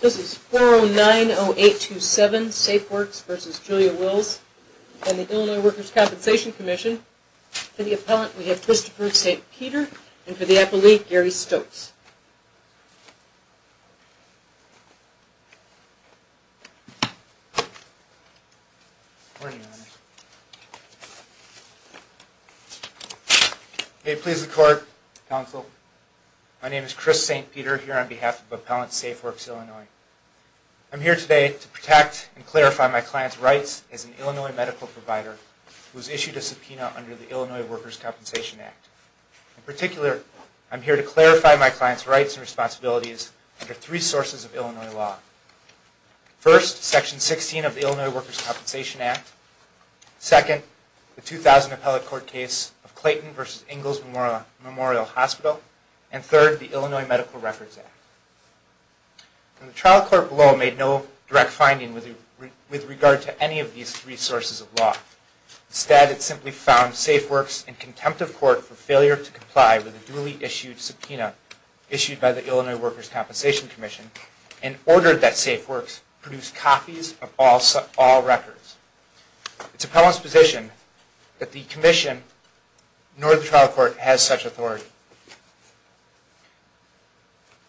This is 4090827 Safeworks v. Julia Wills and the Illinois Workers' Compensation Commission. For the appellant, we have Christopher St. Peter and for the appellee, Gary Stokes. Christopher St. Peter, Illinois Workers' Compensation Commission May it please the Court, Counsel, my name is Chris St. Peter here on behalf of Appellant Safeworks Illinois. I'm here today to protect and clarify my client's rights as an Illinois medical provider who has issued a subpoena under the Illinois Workers' Compensation Act. In particular, I'm here to clarify my client's rights and responsibilities under three sources of Illinois law. First, Section 16 of the Illinois Workers' Compensation Act. Second, the 2000 appellate court case of Clayton v. Ingalls Memorial Hospital. And third, the Illinois Medical Records Act. The trial court below made no direct finding with regard to any of these three sources of law. Instead, it simply found Safeworks in contempt of court for failure to comply with a duly issued subpoena issued by the Illinois Workers' Compensation Commission and ordered that Safeworks produce copies of all records. It's appellant's position that the commission nor the trial court has such authority.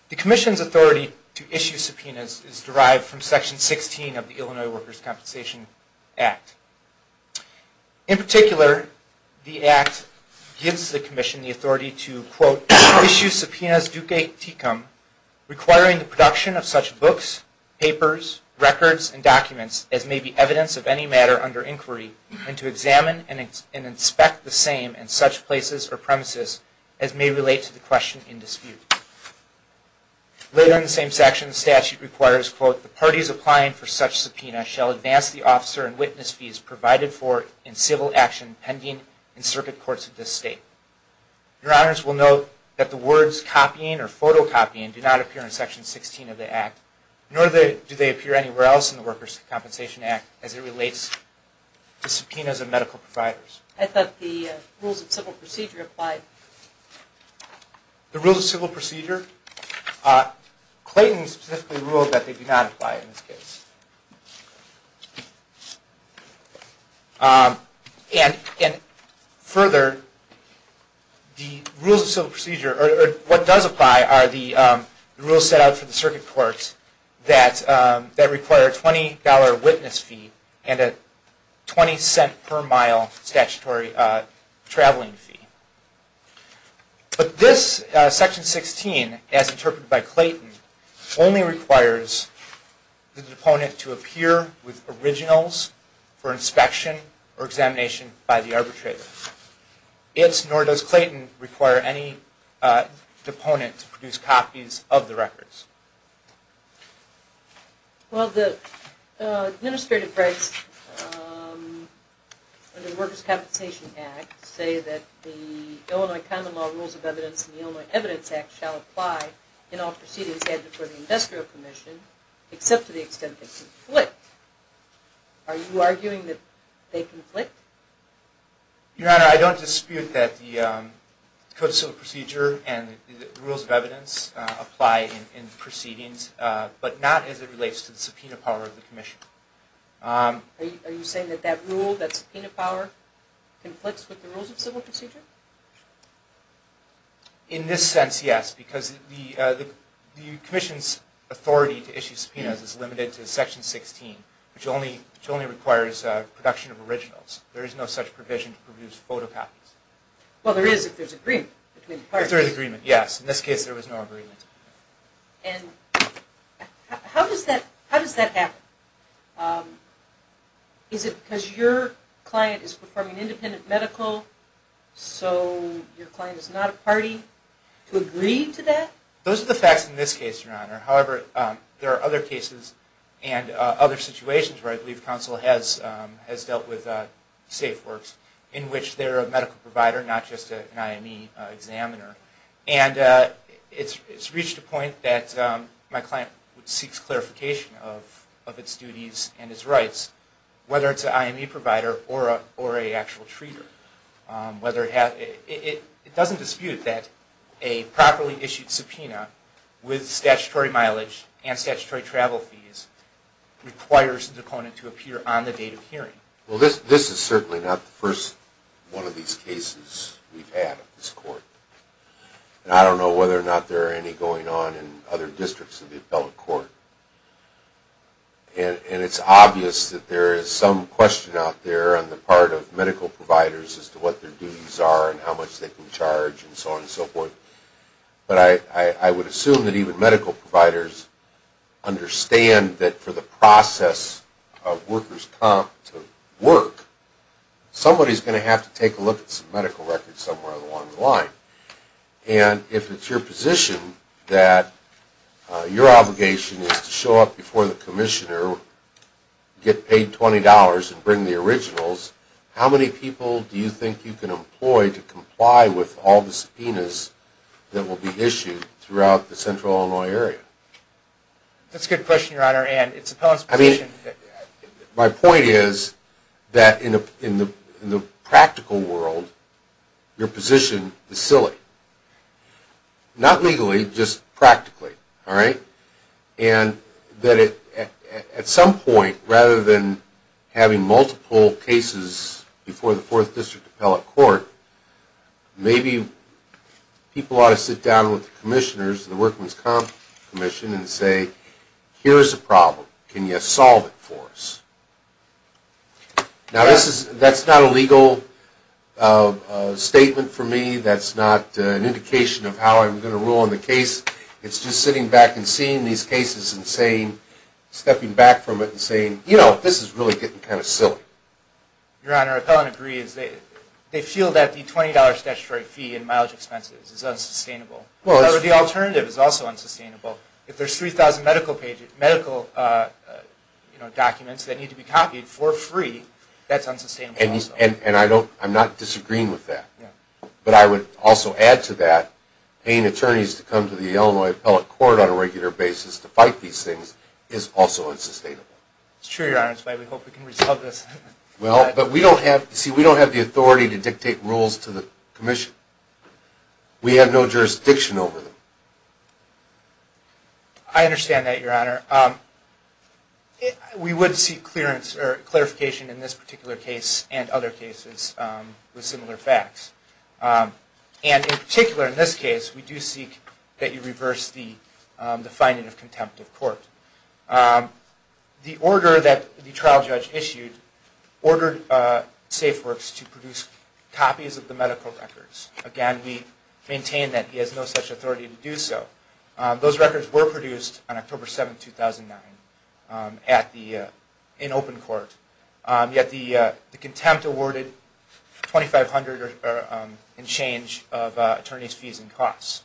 The commission's authority to issue subpoenas is derived from Section 16 of the Illinois Workers' Compensation Act. In particular, the act gives the commission the authority to, quote, issue subpoenas duque tecum requiring the production of such books, papers, records, and documents as may be evidence of any matter under inquiry and to examine and inspect the same in such places or premises as may relate to the question in dispute. Later in the same section, the statute requires, quote, the parties applying for such subpoenas shall advance the officer and witness fees provided for in civil action pending in circuit courts of this state. Your honors will note that the words copying or photocopying do not appear in Section 16 of the act, nor do they appear anywhere else in the Workers' Compensation Act as it relates to subpoenas of medical providers. I thought the rules of civil procedure applied. The rules of civil procedure? Clayton specifically ruled that they do not apply in this case. And further, the rules of civil procedure or what does apply are the rules set out for the circuit courts that require a $20 witness fee and a $0.20 per mile statutory traveling fee. But this Section 16, as interpreted by Clayton, only requires the deponent to appear with originals for inspection or examination by the arbitrator. It, nor does Clayton, require any deponent to produce copies of the records. Well, the Administrative Rights under the Workers' Compensation Act say that the Illinois Common Law Rules of Evidence and the Illinois Evidence Act shall apply in all proceedings handed before the Industrial Commission, except to the extent they conflict. Are you arguing that they conflict? Your Honor, I don't dispute that the Code of Civil Procedure and the Rules of Evidence apply in proceedings, but not as it relates to the subpoena power of the Commission. Are you saying that that rule, that subpoena power, conflicts with the rules of civil procedure? In this sense, yes, because the Commission's authority to issue subpoenas is limited to Section 16, which only requires production of originals. There is no such provision to produce photocopies. Well, there is if there is agreement between the parties. If there is agreement, yes. In this case, there was no agreement. And how does that happen? Is it because your client is performing independent medical, so your client is not a party to agree to that? Those are the facts in this case, Your Honor. However, there are other cases and other situations where I believe counsel has dealt with SafeWorks, in which they're a medical provider, not just an IME examiner. And it's reached a point that my client seeks clarification of its duties and its rights, whether it's an IME provider or an actual treater. It doesn't dispute that a properly issued subpoena with statutory mileage and statutory travel fees requires the opponent to appear on the date of hearing. Well, this is certainly not the first one of these cases we've had at this court. And I don't know whether or not there are any going on in other districts of the appellate court. And it's obvious that there is some question out there on the part of medical providers as to what their duties are and how much they can charge and so on and so forth. But I would assume that even medical providers understand that for the process of workers' comp to work, somebody's going to have to take a look at some medical records somewhere along the line. And if it's your position that your obligation is to show up before the commissioner, get paid $20 and bring the originals, how many people do you think you can employ to comply with all the subpoenas that will be issued throughout the Central Illinois area? That's a good question, Your Honor. My point is that in the practical world, your position is silly. Not legally, just practically. And at some point, rather than having multiple cases before the 4th District Appellate Court, maybe people ought to sit down with the commissioners and the workers' comp commission and say, here's a problem, can you solve it for us? Now, that's not a legal statement for me. That's not an indication of how I'm going to rule on the case. It's just sitting back and seeing these cases and stepping back from it and saying, you know, this is really getting kind of silly. Your Honor, I don't agree. They feel that the $20 statutory fee and mileage expenses is unsustainable. The alternative is also unsustainable. If there's 3,000 medical documents that need to be copied for free, that's unsustainable also. And I'm not disagreeing with that. But I would also add to that, paying attorneys to come to the Illinois Appellate Court on a regular basis to fight these things is also unsustainable. It's true, Your Honor. That's why we hope we can resolve this. Well, but we don't have the authority to dictate rules to the commission. We have no jurisdiction over them. I understand that, Your Honor. We would seek clearance or clarification in this particular case and other cases with similar facts. And in particular, in this case, we do seek that you reverse the finding of contempt of court. The order that the trial judge issued ordered SafeWorks to produce copies of the medical records. Again, we maintain that he has no such authority to do so. Those records were produced on October 7, 2009 in open court. Yet the contempt awarded $2,500 in change of attorney's fees and costs.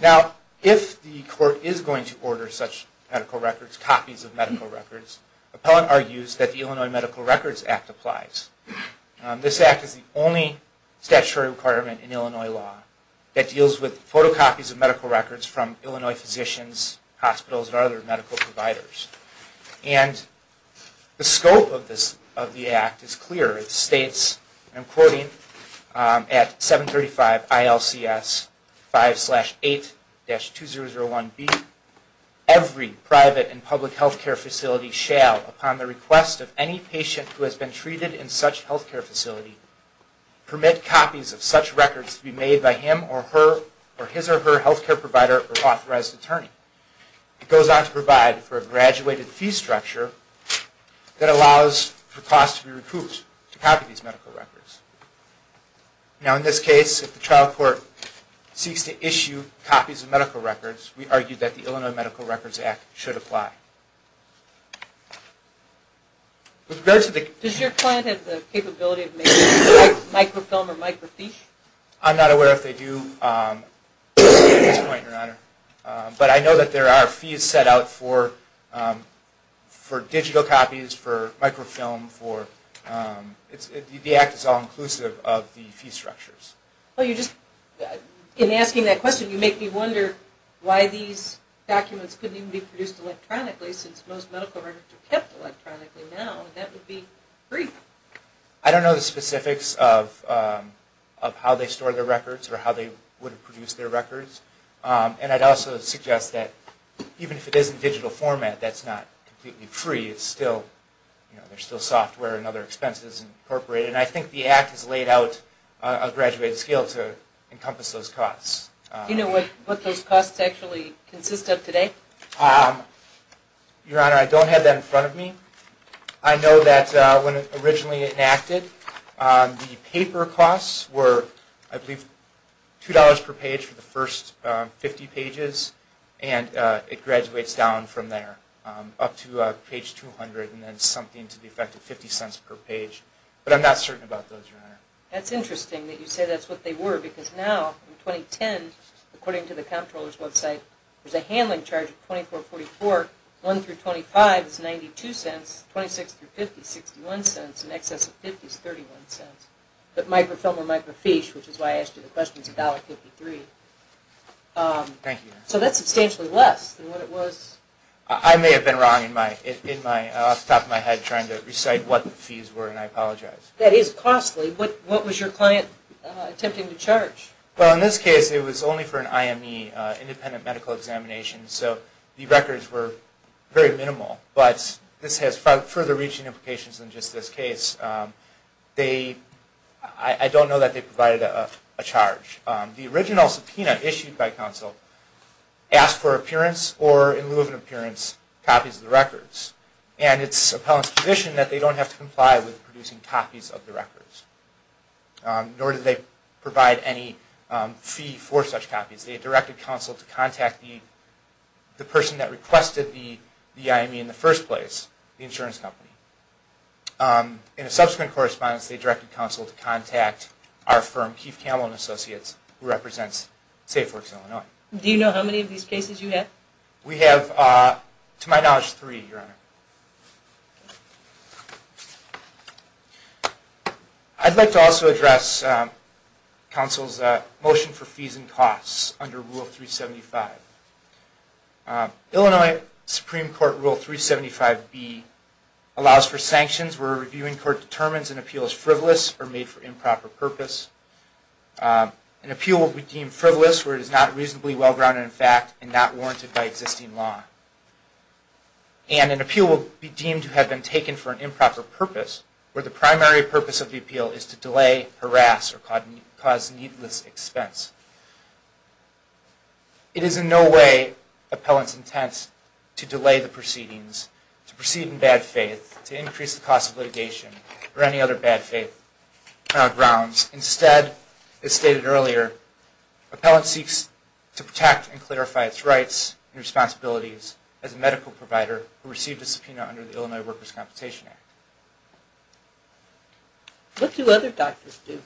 Now, if the court is going to order such medical records, copies of medical records, appellant argues that the Illinois Medical Records Act applies. This act is the only statutory requirement in Illinois law that deals with photocopies of medical records from Illinois physicians, hospitals, and other medical providers. And the scope of the act is clear. It states, and I'm quoting, at 735 ILCS 5-8-2001B, Every private and public health care facility shall, upon the request of any patient who has been treated in such health care facility, permit copies of such records to be made by him or her or his or her health care provider or authorized attorney. It goes on to provide for a graduated fee structure that allows for costs to be recouped to copy these medical records. Now, in this case, if the trial court seeks to issue copies of medical records, we argue that the Illinois Medical Records Act should apply. Does your client have the capability of making microfilm or microfiche? I'm not aware if they do at this point, Your Honor. But I know that there are fees set out for digital copies, for microfilm. The act is all-inclusive of the fee structures. In asking that question, you make me wonder why these documents couldn't even be produced electronically since most medical records are kept electronically now. That would be free. I don't know the specifics of how they store their records or how they would have produced their records. And I'd also suggest that even if it is in digital format, that's not completely free. There's still software and other expenses incorporated. And I think the act has laid out a graduated scale to encompass those costs. Do you know what those costs actually consist of today? Your Honor, I don't have that in front of me. I know that when it originally enacted, the paper costs were, I believe, $2 per page for the first 50 pages. And it graduates down from there, up to page 200, and then something to the effect of 50 cents per page. But I'm not certain about those, Your Honor. That's interesting that you say that's what they were. Because now, in 2010, according to the comptroller's website, there's a handling charge of $24.44. $1 through $25 is $0.92. $0.26 through $0.50 is $0.61. An excess of $0.50 is $0.31. But microfilm or microfiche, which is why I asked you the question, is $1.53. Thank you, Your Honor. So that's substantially less than what it was. I may have been wrong off the top of my head trying to recite what the fees were, and I apologize. That is costly. What was your client attempting to charge? Well, in this case, it was only for an IME, independent medical examination. So the records were very minimal. But this has further reaching implications than just this case. I don't know that they provided a charge. The original subpoena issued by counsel asked for appearance or, in lieu of an appearance, copies of the records. And it's appellant's position that they don't have to comply with producing copies of the records. Nor did they provide any fee for such copies. They directed counsel to contact the person that requested the IME in the first place, the insurance company. In a subsequent correspondence, they directed counsel to contact our firm, Keith Camel and Associates, who represents SafeWorks Illinois. Do you know how many of these cases you have? We have, to my knowledge, three, Your Honor. I'd like to also address counsel's motion for fees and costs under Rule 375. Illinois Supreme Court Rule 375B allows for sanctions where a reviewing court determines an appeal is frivolous or made for improper purpose. An appeal will be deemed frivolous where it is not reasonably well-grounded in fact and not warranted by existing law. And an appeal will be deemed to have been taken for an improper purpose where the primary purpose of the appeal is to delay, harass, or cause needless expense. It is in no way appellant's intent to delay the proceedings, to proceed in bad faith, to increase the cost of litigation, or any other bad faith grounds. Instead, as stated earlier, appellant seeks to protect and clarify its rights and responsibilities as a medical provider who received a subpoena under the Illinois Workers' Compensation Act. What do other doctors do?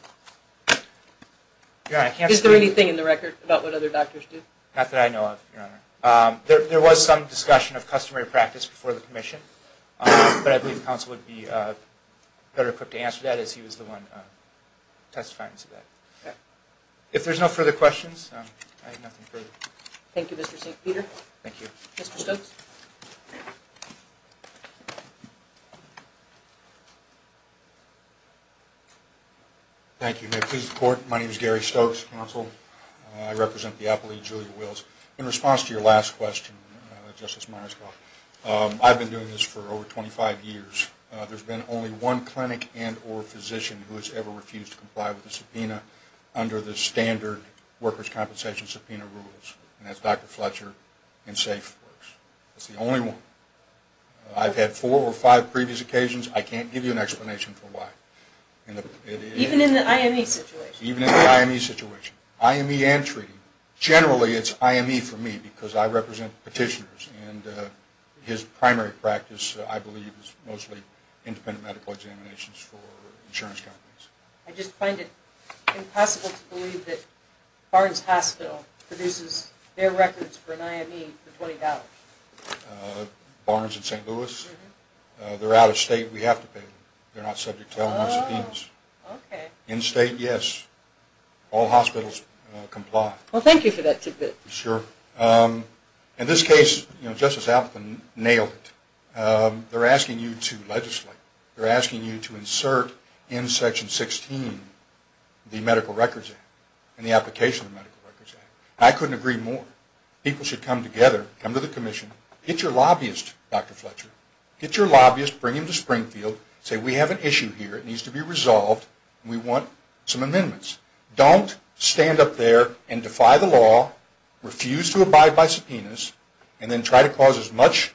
Is there anything in the record about what other doctors do? Not that I know of, Your Honor. There was some discussion of customary practice before the commission, but I believe counsel would be better equipped to answer that as he was the one testifying to that. Okay. If there's no further questions, I have nothing further. Thank you, Mr. Stokes. Peter? Thank you. Mr. Stokes? Thank you. May it please the Court, my name is Gary Stokes, counsel. I represent the appellee, Julia Wills. In response to your last question, Justice Myerscough, I've been doing this for over 25 years. There's been only one clinic and or physician who has ever refused to comply with a subpoena under the standard workers' compensation subpoena rules, and that's Dr. Fletcher in SafeWorks. That's the only one. I've had four or five previous occasions. I can't give you an explanation for why. Even in the IME situation? Even in the IME situation. IME and treating. Generally, it's IME for me because I represent petitioners, and his primary practice, I believe, is mostly independent medical examinations for insurance companies. I just find it impossible to believe that Barnes Hospital produces their records for an IME for $20. Barnes and St. Louis? Mm-hmm. They're out of state. We have to pay them. They're not subject to any subpoenas. Oh, okay. In state, yes. All hospitals comply. Well, thank you for that tidbit. Sure. In this case, Justice Alvin nailed it. They're asking you to legislate. They're asking you to insert in Section 16 the Medical Records Act and the application of the Medical Records Act. I couldn't agree more. People should come together, come to the commission, get your lobbyist, Dr. Fletcher, get your lobbyist, bring him to Springfield, say, we have an issue here. It needs to be resolved. We want some amendments. Don't stand up there and defy the law, refuse to abide by subpoenas, and then try to cause as much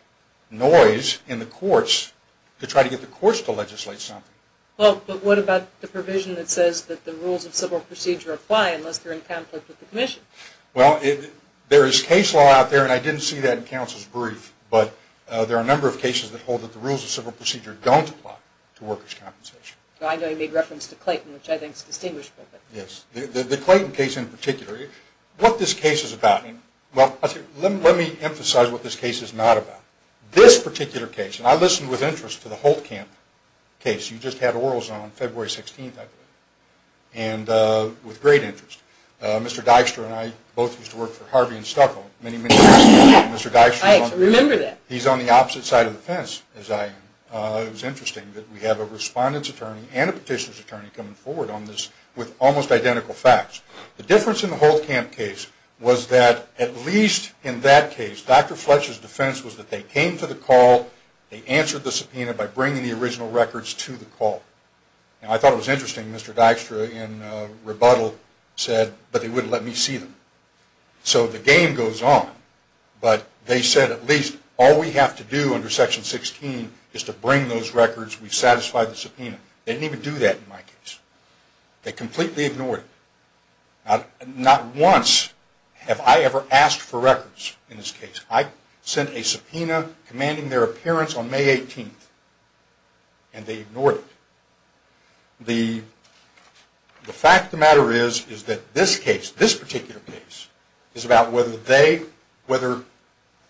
noise in the courts to try to get the courts to legislate something. Well, but what about the provision that says that the rules of civil procedure apply unless they're in conflict with the commission? Well, there is case law out there, and I didn't see that in counsel's brief, but there are a number of cases that hold that the rules of civil procedure don't apply to workers' compensation. I know you made reference to Clayton, which I think is distinguishable. Yes, the Clayton case in particular. What this case is about, well, let me emphasize what this case is not about. This particular case, and I listened with interest to the Holtkamp case. You just had orals on February 16th, I believe, and with great interest. Mr. Dykstra and I both used to work for Harvey and Stucco many, many years ago. I actually remember that. He's on the opposite side of the fence as I am. It was interesting that we have a respondent's attorney and a petitioner's attorney coming forward on this with almost identical facts. The difference in the Holtkamp case was that at least in that case, Dr. Fletcher's defense was that they came to the call, they answered the subpoena by bringing the original records to the call. And I thought it was interesting Mr. Dykstra in rebuttal said, but they wouldn't let me see them. So the game goes on, but they said at least all we have to do under Section 16 is to bring those records. We've satisfied the subpoena. They didn't even do that in my case. They completely ignored it. Not once have I ever asked for records in this case. I sent a subpoena commanding their appearance on May 18th, and they ignored it. The fact of the matter is that this case, this particular case, is about whether they, whether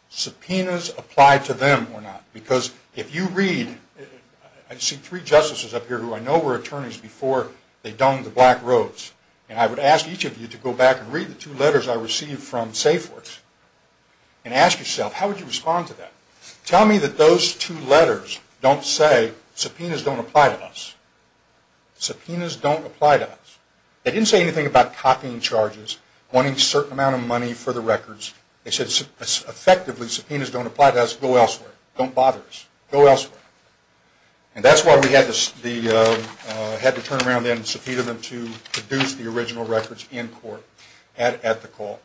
subpoenas apply to them or not. Because if you read, I see three justices up here who I know were attorneys before they dung the black roads. And I would ask each of you to go back and read the two letters I received from SafeWorks and ask yourself, how would you respond to that? Tell me that those two letters don't say subpoenas don't apply to us. Subpoenas don't apply to us. They didn't say anything about copying charges, wanting a certain amount of money for the records. They said effectively subpoenas don't apply to us, go elsewhere. Don't bother us. Go elsewhere. And that's why we had to turn around and subpoena them to produce the original records in court at the call,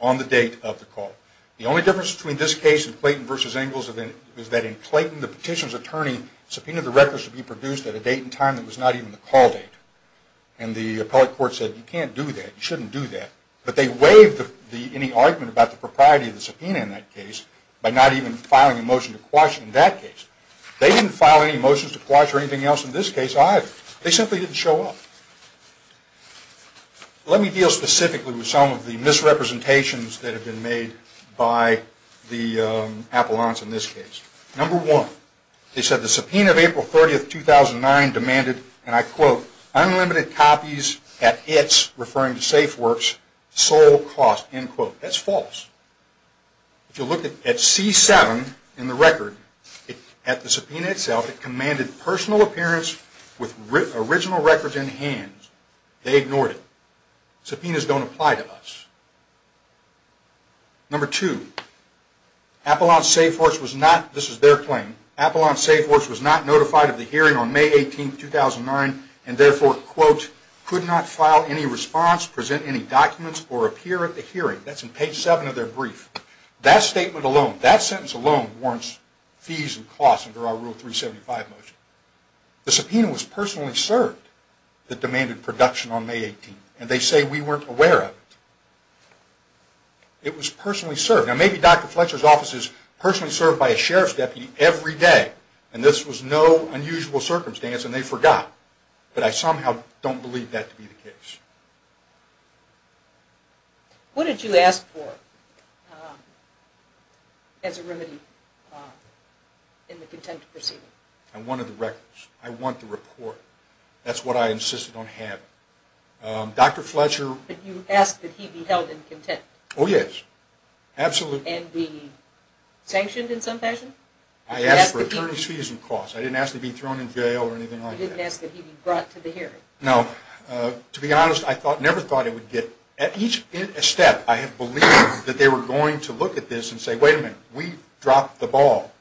on the date of the call. The only difference between this case and Clayton v. Engels is that in Clayton, the petition's attorney subpoenaed the records to be produced at a date and time that was not even the call date. And the appellate court said, you can't do that. You shouldn't do that. But they waived any argument about the propriety of the subpoena in that case by not even filing a motion to quash it in that case. They didn't file any motions to quash or anything else in this case either. They simply didn't show up. Let me deal specifically with some of the misrepresentations that have been made by the appellants in this case. Number one, they said the subpoena of April 30, 2009 demanded, and I quote, unlimited copies at its, referring to SafeWorks, sole cost, end quote. That's false. If you look at C7 in the record, at the subpoena itself, it commanded personal appearance with original records in hand. They ignored it. Subpoenas don't apply to us. Number two, Appellant SafeWorks was not, this is their claim, Appellant SafeWorks was not notified of the hearing on May 18, 2009, and therefore, quote, could not file any response, present any documents, or appear at the hearing. That's in page seven of their brief. That statement alone, that sentence alone warrants fees and costs under our Rule 375 motion. The subpoena was personally served that demanded production on May 18, and they say we weren't aware of it. It was personally served. Now, maybe Dr. Fletcher's office is personally served by a sheriff's deputy every day, and this was no unusual circumstance, and they forgot, but I somehow don't believe that to be the case. What did you ask for as a remedy in the contempt proceeding? I wanted the records. I want the report. That's what I insisted on having. Dr. Fletcher... But you asked that he be held in contempt. Oh, yes. Absolutely. And be sanctioned in some fashion? I asked for attorney's fees and costs. I didn't ask to be thrown in jail or anything like that. You didn't ask that he be brought to the hearing. No. To be honest, I never thought it would get... At each step, I have believed that they were going to look at this and say, wait a minute, we dropped the ball.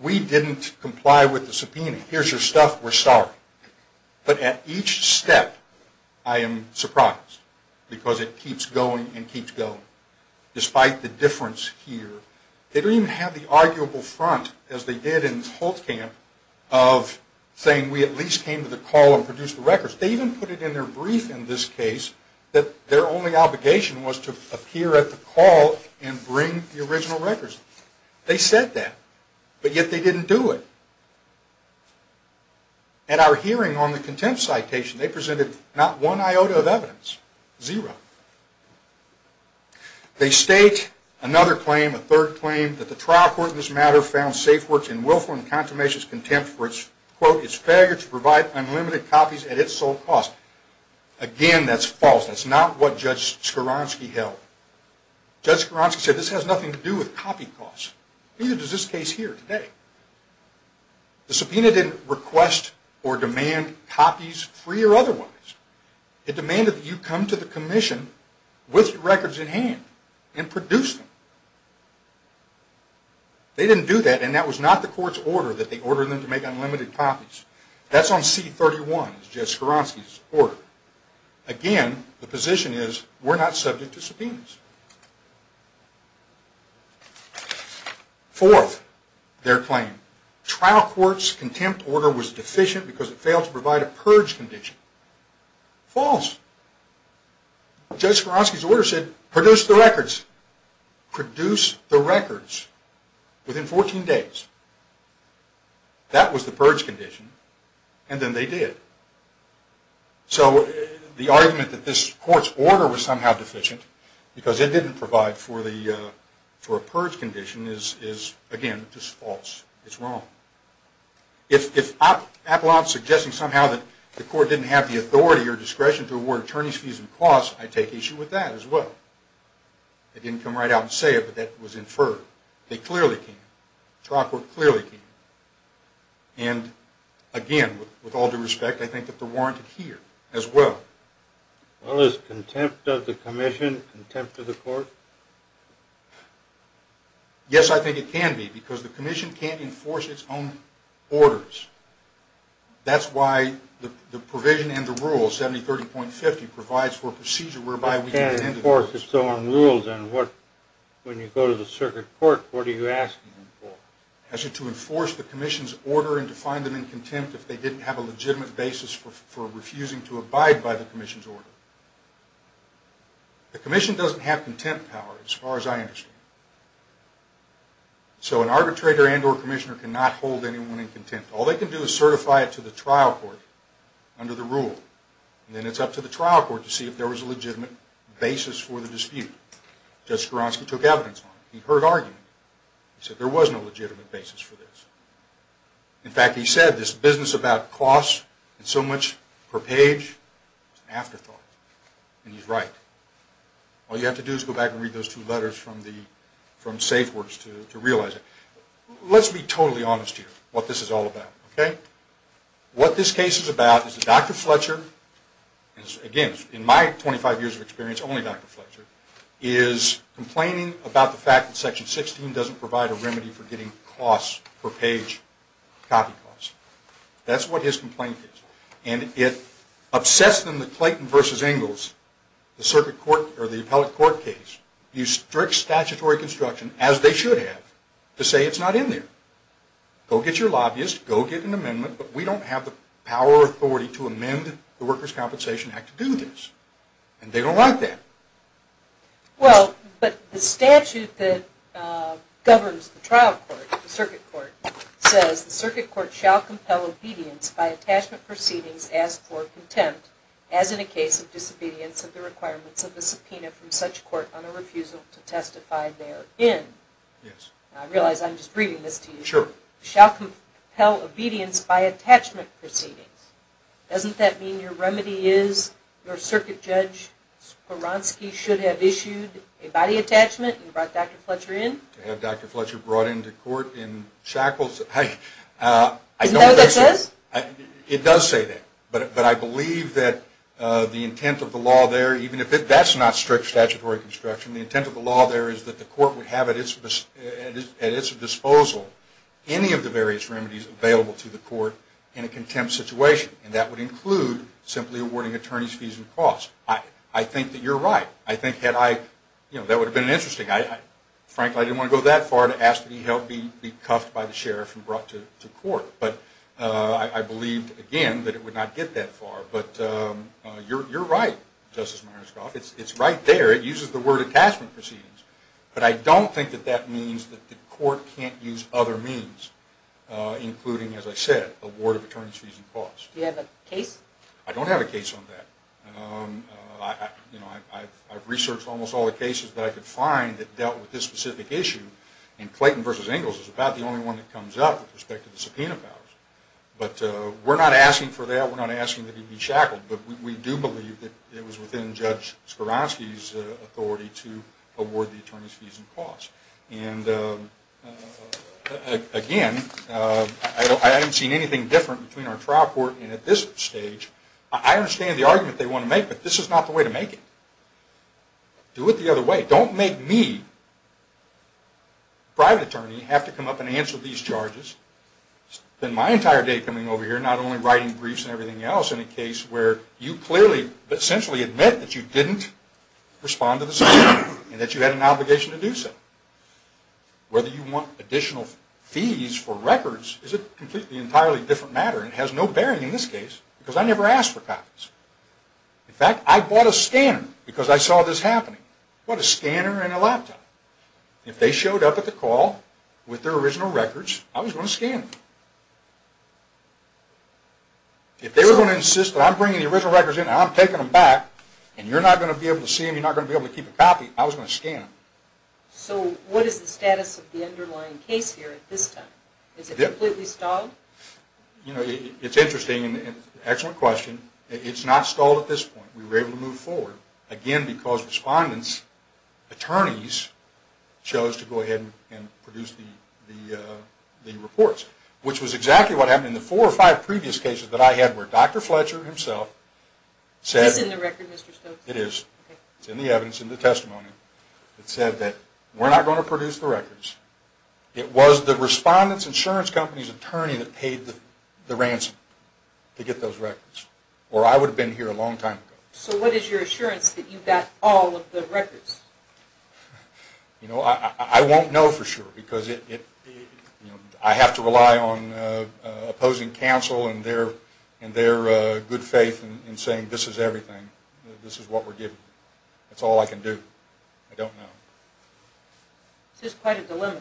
We didn't comply with the subpoena. Here's your stuff. We're sorry. But at each step, I am surprised, because it keeps going and keeps going. Despite the difference here, they don't even have the arguable front, as they did in Holtzkamp, of saying we at least came to the call and produced the records. They even put it in their brief in this case that their only obligation was to appear at the call and bring the original records. They said that, but yet they didn't do it. At our hearing on the contempt citation, they presented not one iota of evidence, zero. They state another claim, a third claim, that the trial court in this matter found SafeWorks in willful and consummationist contempt for its, quote, its failure to provide unlimited copies at its sole cost. Again, that's false. That's not what Judge Skoransky held. Judge Skoransky said this has nothing to do with copy costs. Neither does this case here today. The subpoena didn't request or demand copies, free or otherwise. It demanded that you come to the commission with records in hand and produce them. They didn't do that, and that was not the court's order that they order them to make unlimited copies. That's on C-31, Judge Skoransky's order. Again, the position is we're not subject to subpoenas. Fourth, their claim. Trial court's contempt order was deficient because it failed to provide a purge condition. False. Judge Skoransky's order said produce the records. Produce the records within 14 days. That was the purge condition, and then they did. So the argument that this court's order was somehow deficient because it didn't provide for a purge condition is, again, just false. It's wrong. If Apollon's suggesting somehow that the court didn't have the authority or discretion to award attorneys' fees and costs, I take issue with that as well. They didn't come right out and say it, but that was inferred. They clearly can't. Trial court clearly can't. And, again, with all due respect, I think that they're warranted here as well. Well, is contempt of the commission contempt of the court? Yes, I think it can be, because the commission can't enforce its own orders. That's why the provision and the rules, 7030.50, provides for a procedure whereby we can't enforce it. It can't enforce its own rules, and when you go to the circuit court, what are you asking them for? To enforce the commission's order and to find them in contempt if they didn't have a legitimate basis for refusing to abide by the commission's order. The commission doesn't have contempt power, as far as I understand. So an arbitrator and or commissioner cannot hold anyone in contempt. All they can do is certify it to the trial court under the rule, and then it's up to the trial court to see if there was a legitimate basis for the dispute. Judge Skowronski took evidence on it. He heard argument. He said there was no legitimate basis for this. In fact, he said this business about costs and so much per page is an afterthought, and he's right. All you have to do is go back and read those two letters from SafeWorks to realize it. Let's be totally honest here, what this is all about, okay? What this case is about is that Dr. Fletcher is, again, in my 25 years of experience, only Dr. Fletcher, is complaining about the fact that Section 16 doesn't provide a remedy for getting costs per page copy costs. That's what his complaint is. And it upsets them that Clayton v. Ingalls, the appellate court case, used strict statutory construction, as they should have, to say it's not in there. Go get your lobbyist. Go get an amendment. But we don't have the power or authority to amend the Workers' Compensation Act to do this, and they don't want that. Well, but the statute that governs the trial court, the circuit court, says the circuit court shall compel obedience by attachment proceedings as for contempt, as in a case of disobedience of the requirements of the subpoena from such court on a refusal to testify therein. Yes. I realize I'm just reading this to you. Sure. Shall compel obedience by attachment proceedings. Doesn't that mean your remedy is your circuit judge Swaronski should have issued a body attachment and brought Dr. Fletcher in? To have Dr. Fletcher brought into court in shackles? Isn't that what that says? It does say that. But I believe that the intent of the law there, even if that's not strict statutory construction, the intent of the law there is that the court would have at its disposal any of the various remedies available to the court in a contempt situation, and that would include simply awarding attorney's fees and costs. I think that you're right. I think that would have been interesting. Frankly, I didn't want to go that far to ask that he be cuffed by the sheriff and brought to court. But I believe, again, that it would not get that far. But you're right, Justice Myerscough. It's right there. It uses the word attachment proceedings. But I don't think that that means that the court can't use other means, including, as I said, award of attorney's fees and costs. Do you have a case? I don't have a case on that. I've researched almost all the cases that I could find that dealt with this specific issue, and Clayton v. Ingalls is about the only one that comes up with respect to the subpoena powers. But we're not asking for that. We're not asking that he be shackled. But we do believe that it was within Judge Skowronski's authority to award the attorney's fees and costs. And, again, I haven't seen anything different between our trial court and at this stage. I understand the argument they want to make, but this is not the way to make it. Do it the other way. Don't make me, the private attorney, have to come up and answer these charges. It's been my entire day coming over here, not only writing briefs and everything else, in a case where you clearly essentially admit that you didn't respond to the subpoena and that you had an obligation to do so. Whether you want additional fees for records is a completely entirely different matter. It has no bearing in this case because I never asked for copies. In fact, I bought a scanner because I saw this happening. I bought a scanner and a laptop. If they showed up at the call with their original records, I was going to scan them. If they were going to insist that I'm bringing the original records in and I'm taking them back and you're not going to be able to see them, you're not going to be able to keep a copy, I was going to scan them. So what is the status of the underlying case here at this time? Is it completely stalled? You know, it's interesting and an excellent question. It's not stalled at this point. We were able to move forward, again, because respondents, attorneys, chose to go ahead and produce the reports, which was exactly what happened in the four or five previous cases that I had where Dr. Fletcher himself said... Is this in the record, Mr. Stokes? It is. It's in the evidence, in the testimony. It said that we're not going to produce the records. It was the respondent's insurance company's attorney that paid the ransom to get those records or I would have been here a long time ago. So what is your assurance that you've got all of the records? You know, I won't know for sure because I have to rely on opposing counsel and their good faith in saying this is everything. This is what we're giving you. It's all I can do. I don't know. This is quite a dilemma.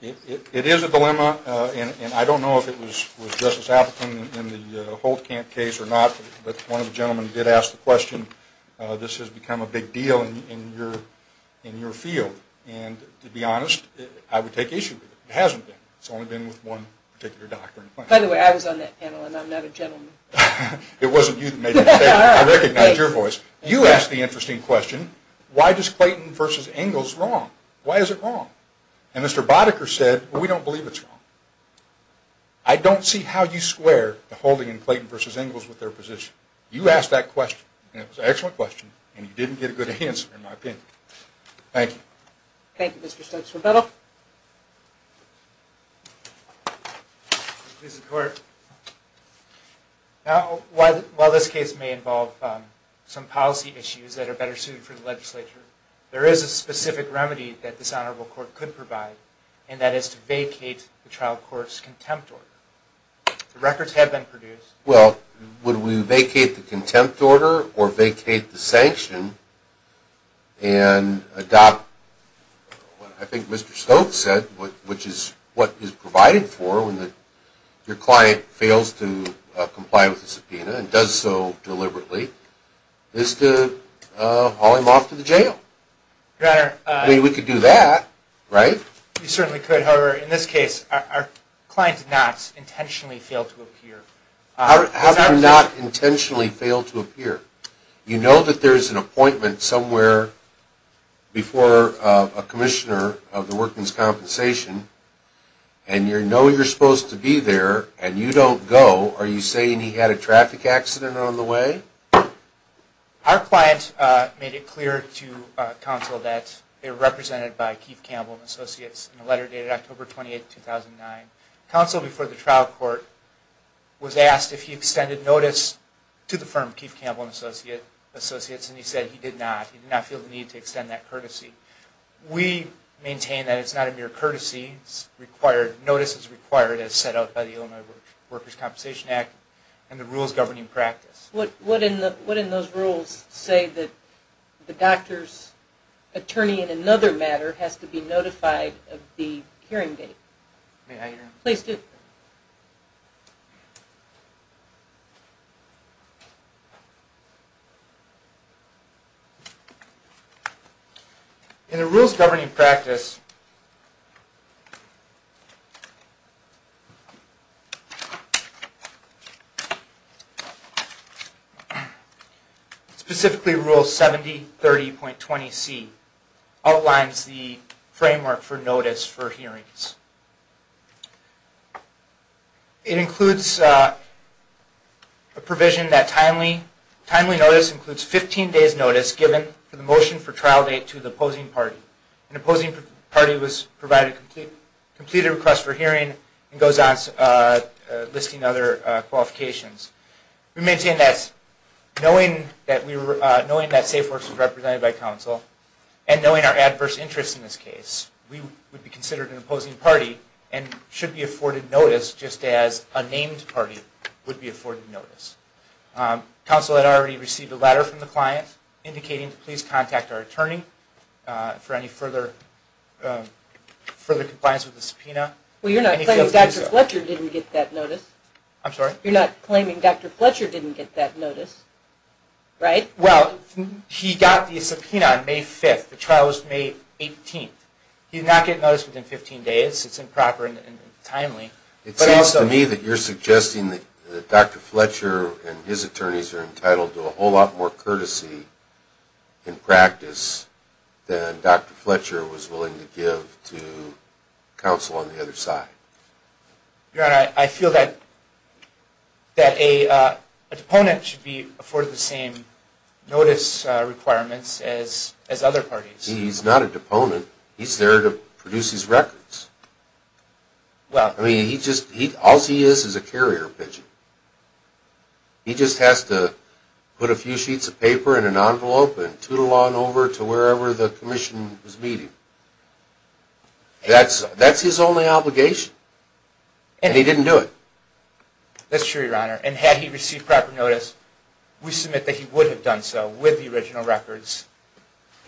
It is a dilemma, and I don't know if it was Justice Appleton in the Holtkamp case or not, but one of the gentlemen did ask the question, this has become a big deal in your field. And to be honest, I would take issue with it. It hasn't been. It's only been with one particular doctor. By the way, I was on that panel, and I'm not a gentleman. It wasn't you that made that statement. I recognize your voice. You asked the interesting question, why is Clayton v. Engels wrong? Why is it wrong? And Mr. Boddicker said, we don't believe it's wrong. I don't see how you square the Holding and Clayton v. Engels with their position. You asked that question, and it was an excellent question, and you didn't get a good answer in my opinion. Thank you. Thank you, Mr. Stokes. Rebuttal. Please support. While this case may involve some policy issues that are better suited for the legislature, there is a specific remedy that this honorable court could provide, and that is to vacate the trial court's contempt order. The records have been produced. Well, would we vacate the contempt order or vacate the sanction and adopt what I think Mr. Stokes said, which is what is provided for when your client fails to comply with the subpoena and does so deliberately, is to haul him off to the jail? Your Honor. I mean, we could do that, right? We certainly could. However, in this case, our client did not intentionally fail to appear. How did he not intentionally fail to appear? You know that there is an appointment somewhere before a commissioner of the Workman's Compensation, and you know you're supposed to be there, and you don't go. Are you saying he had a traffic accident on the way? Our client made it clear to counsel that they were represented by Keith Campbell and Associates in a letter dated October 28, 2009. Counsel before the trial court was asked if he extended notice to the firm, Keith Campbell and Associates, and he said he did not. He did not feel the need to extend that courtesy. We maintain that it's not a mere courtesy. Notice is required as set out by the Illinois Workers' Compensation Act and the rules governing practice. What in those rules say that the doctor's attorney in another matter has to be notified of the hearing date? May I hear him? Please do. In the rules governing practice, specifically Rule 7030.20C outlines the framework for notice for hearings. It includes a provision that timely notice includes 15 days notice given for the motion for trial date to the opposing party. An opposing party was provided a completed request for hearing and goes on listing other qualifications. We maintain that knowing that SafeWorks was represented by counsel, and knowing our adverse interests in this case, we would be considered an opposing party and should be afforded notice just as a named party would be afforded notice. Counsel had already received a letter from the client indicating to please contact our attorney for any further compliance with the subpoena. Well, you're not claiming Dr. Fletcher didn't get that notice. I'm sorry? You're not claiming Dr. Fletcher didn't get that notice, right? Well, he got the subpoena on May 5th. The trial was May 18th. He did not get notice within 15 days. It's improper and timely. It seems to me that you're suggesting that Dr. Fletcher and his attorneys are entitled to a whole lot more courtesy in practice than Dr. Fletcher was willing to give to counsel on the other side. Your Honor, I feel that an opponent should be afforded the same notice requirements as other parties. He's not an opponent. He's there to produce his records. I mean, all he is is a carrier pigeon. He just has to put a few sheets of paper in an envelope and tootle on over to wherever the commission is meeting. That's his only obligation, and he didn't do it. That's true, Your Honor, and had he received proper notice, we submit that he would have done so with the original records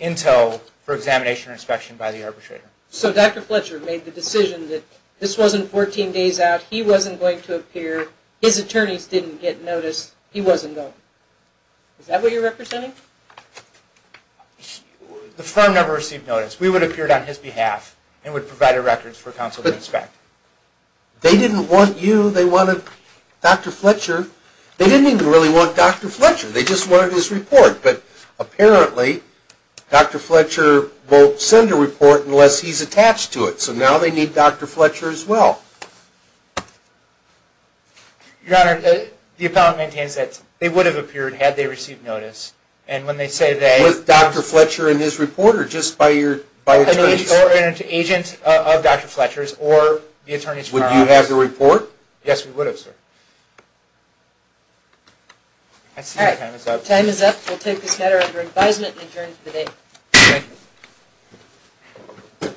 until for examination or inspection by the arbitrator. So Dr. Fletcher made the decision that this wasn't 14 days out, he wasn't going to appear, his attorneys didn't get notice, he wasn't going. Is that what you're representing? The firm never received notice. We would have appeared on his behalf and would have provided records for counsel to inspect. They didn't want you. They wanted Dr. Fletcher. They didn't even really want Dr. Fletcher. They just wanted his report. But apparently Dr. Fletcher won't send a report unless he's attached to it. So now they need Dr. Fletcher as well. Your Honor, the appellant maintains that they would have appeared had they received notice. Was Dr. Fletcher in his report or just by attorneys? An agent of Dr. Fletcher's or the attorney's firm. Would you have the report? Yes, we would have, sir. All right, time is up. We'll take this matter under advisement and adjourn for the day. Thank you.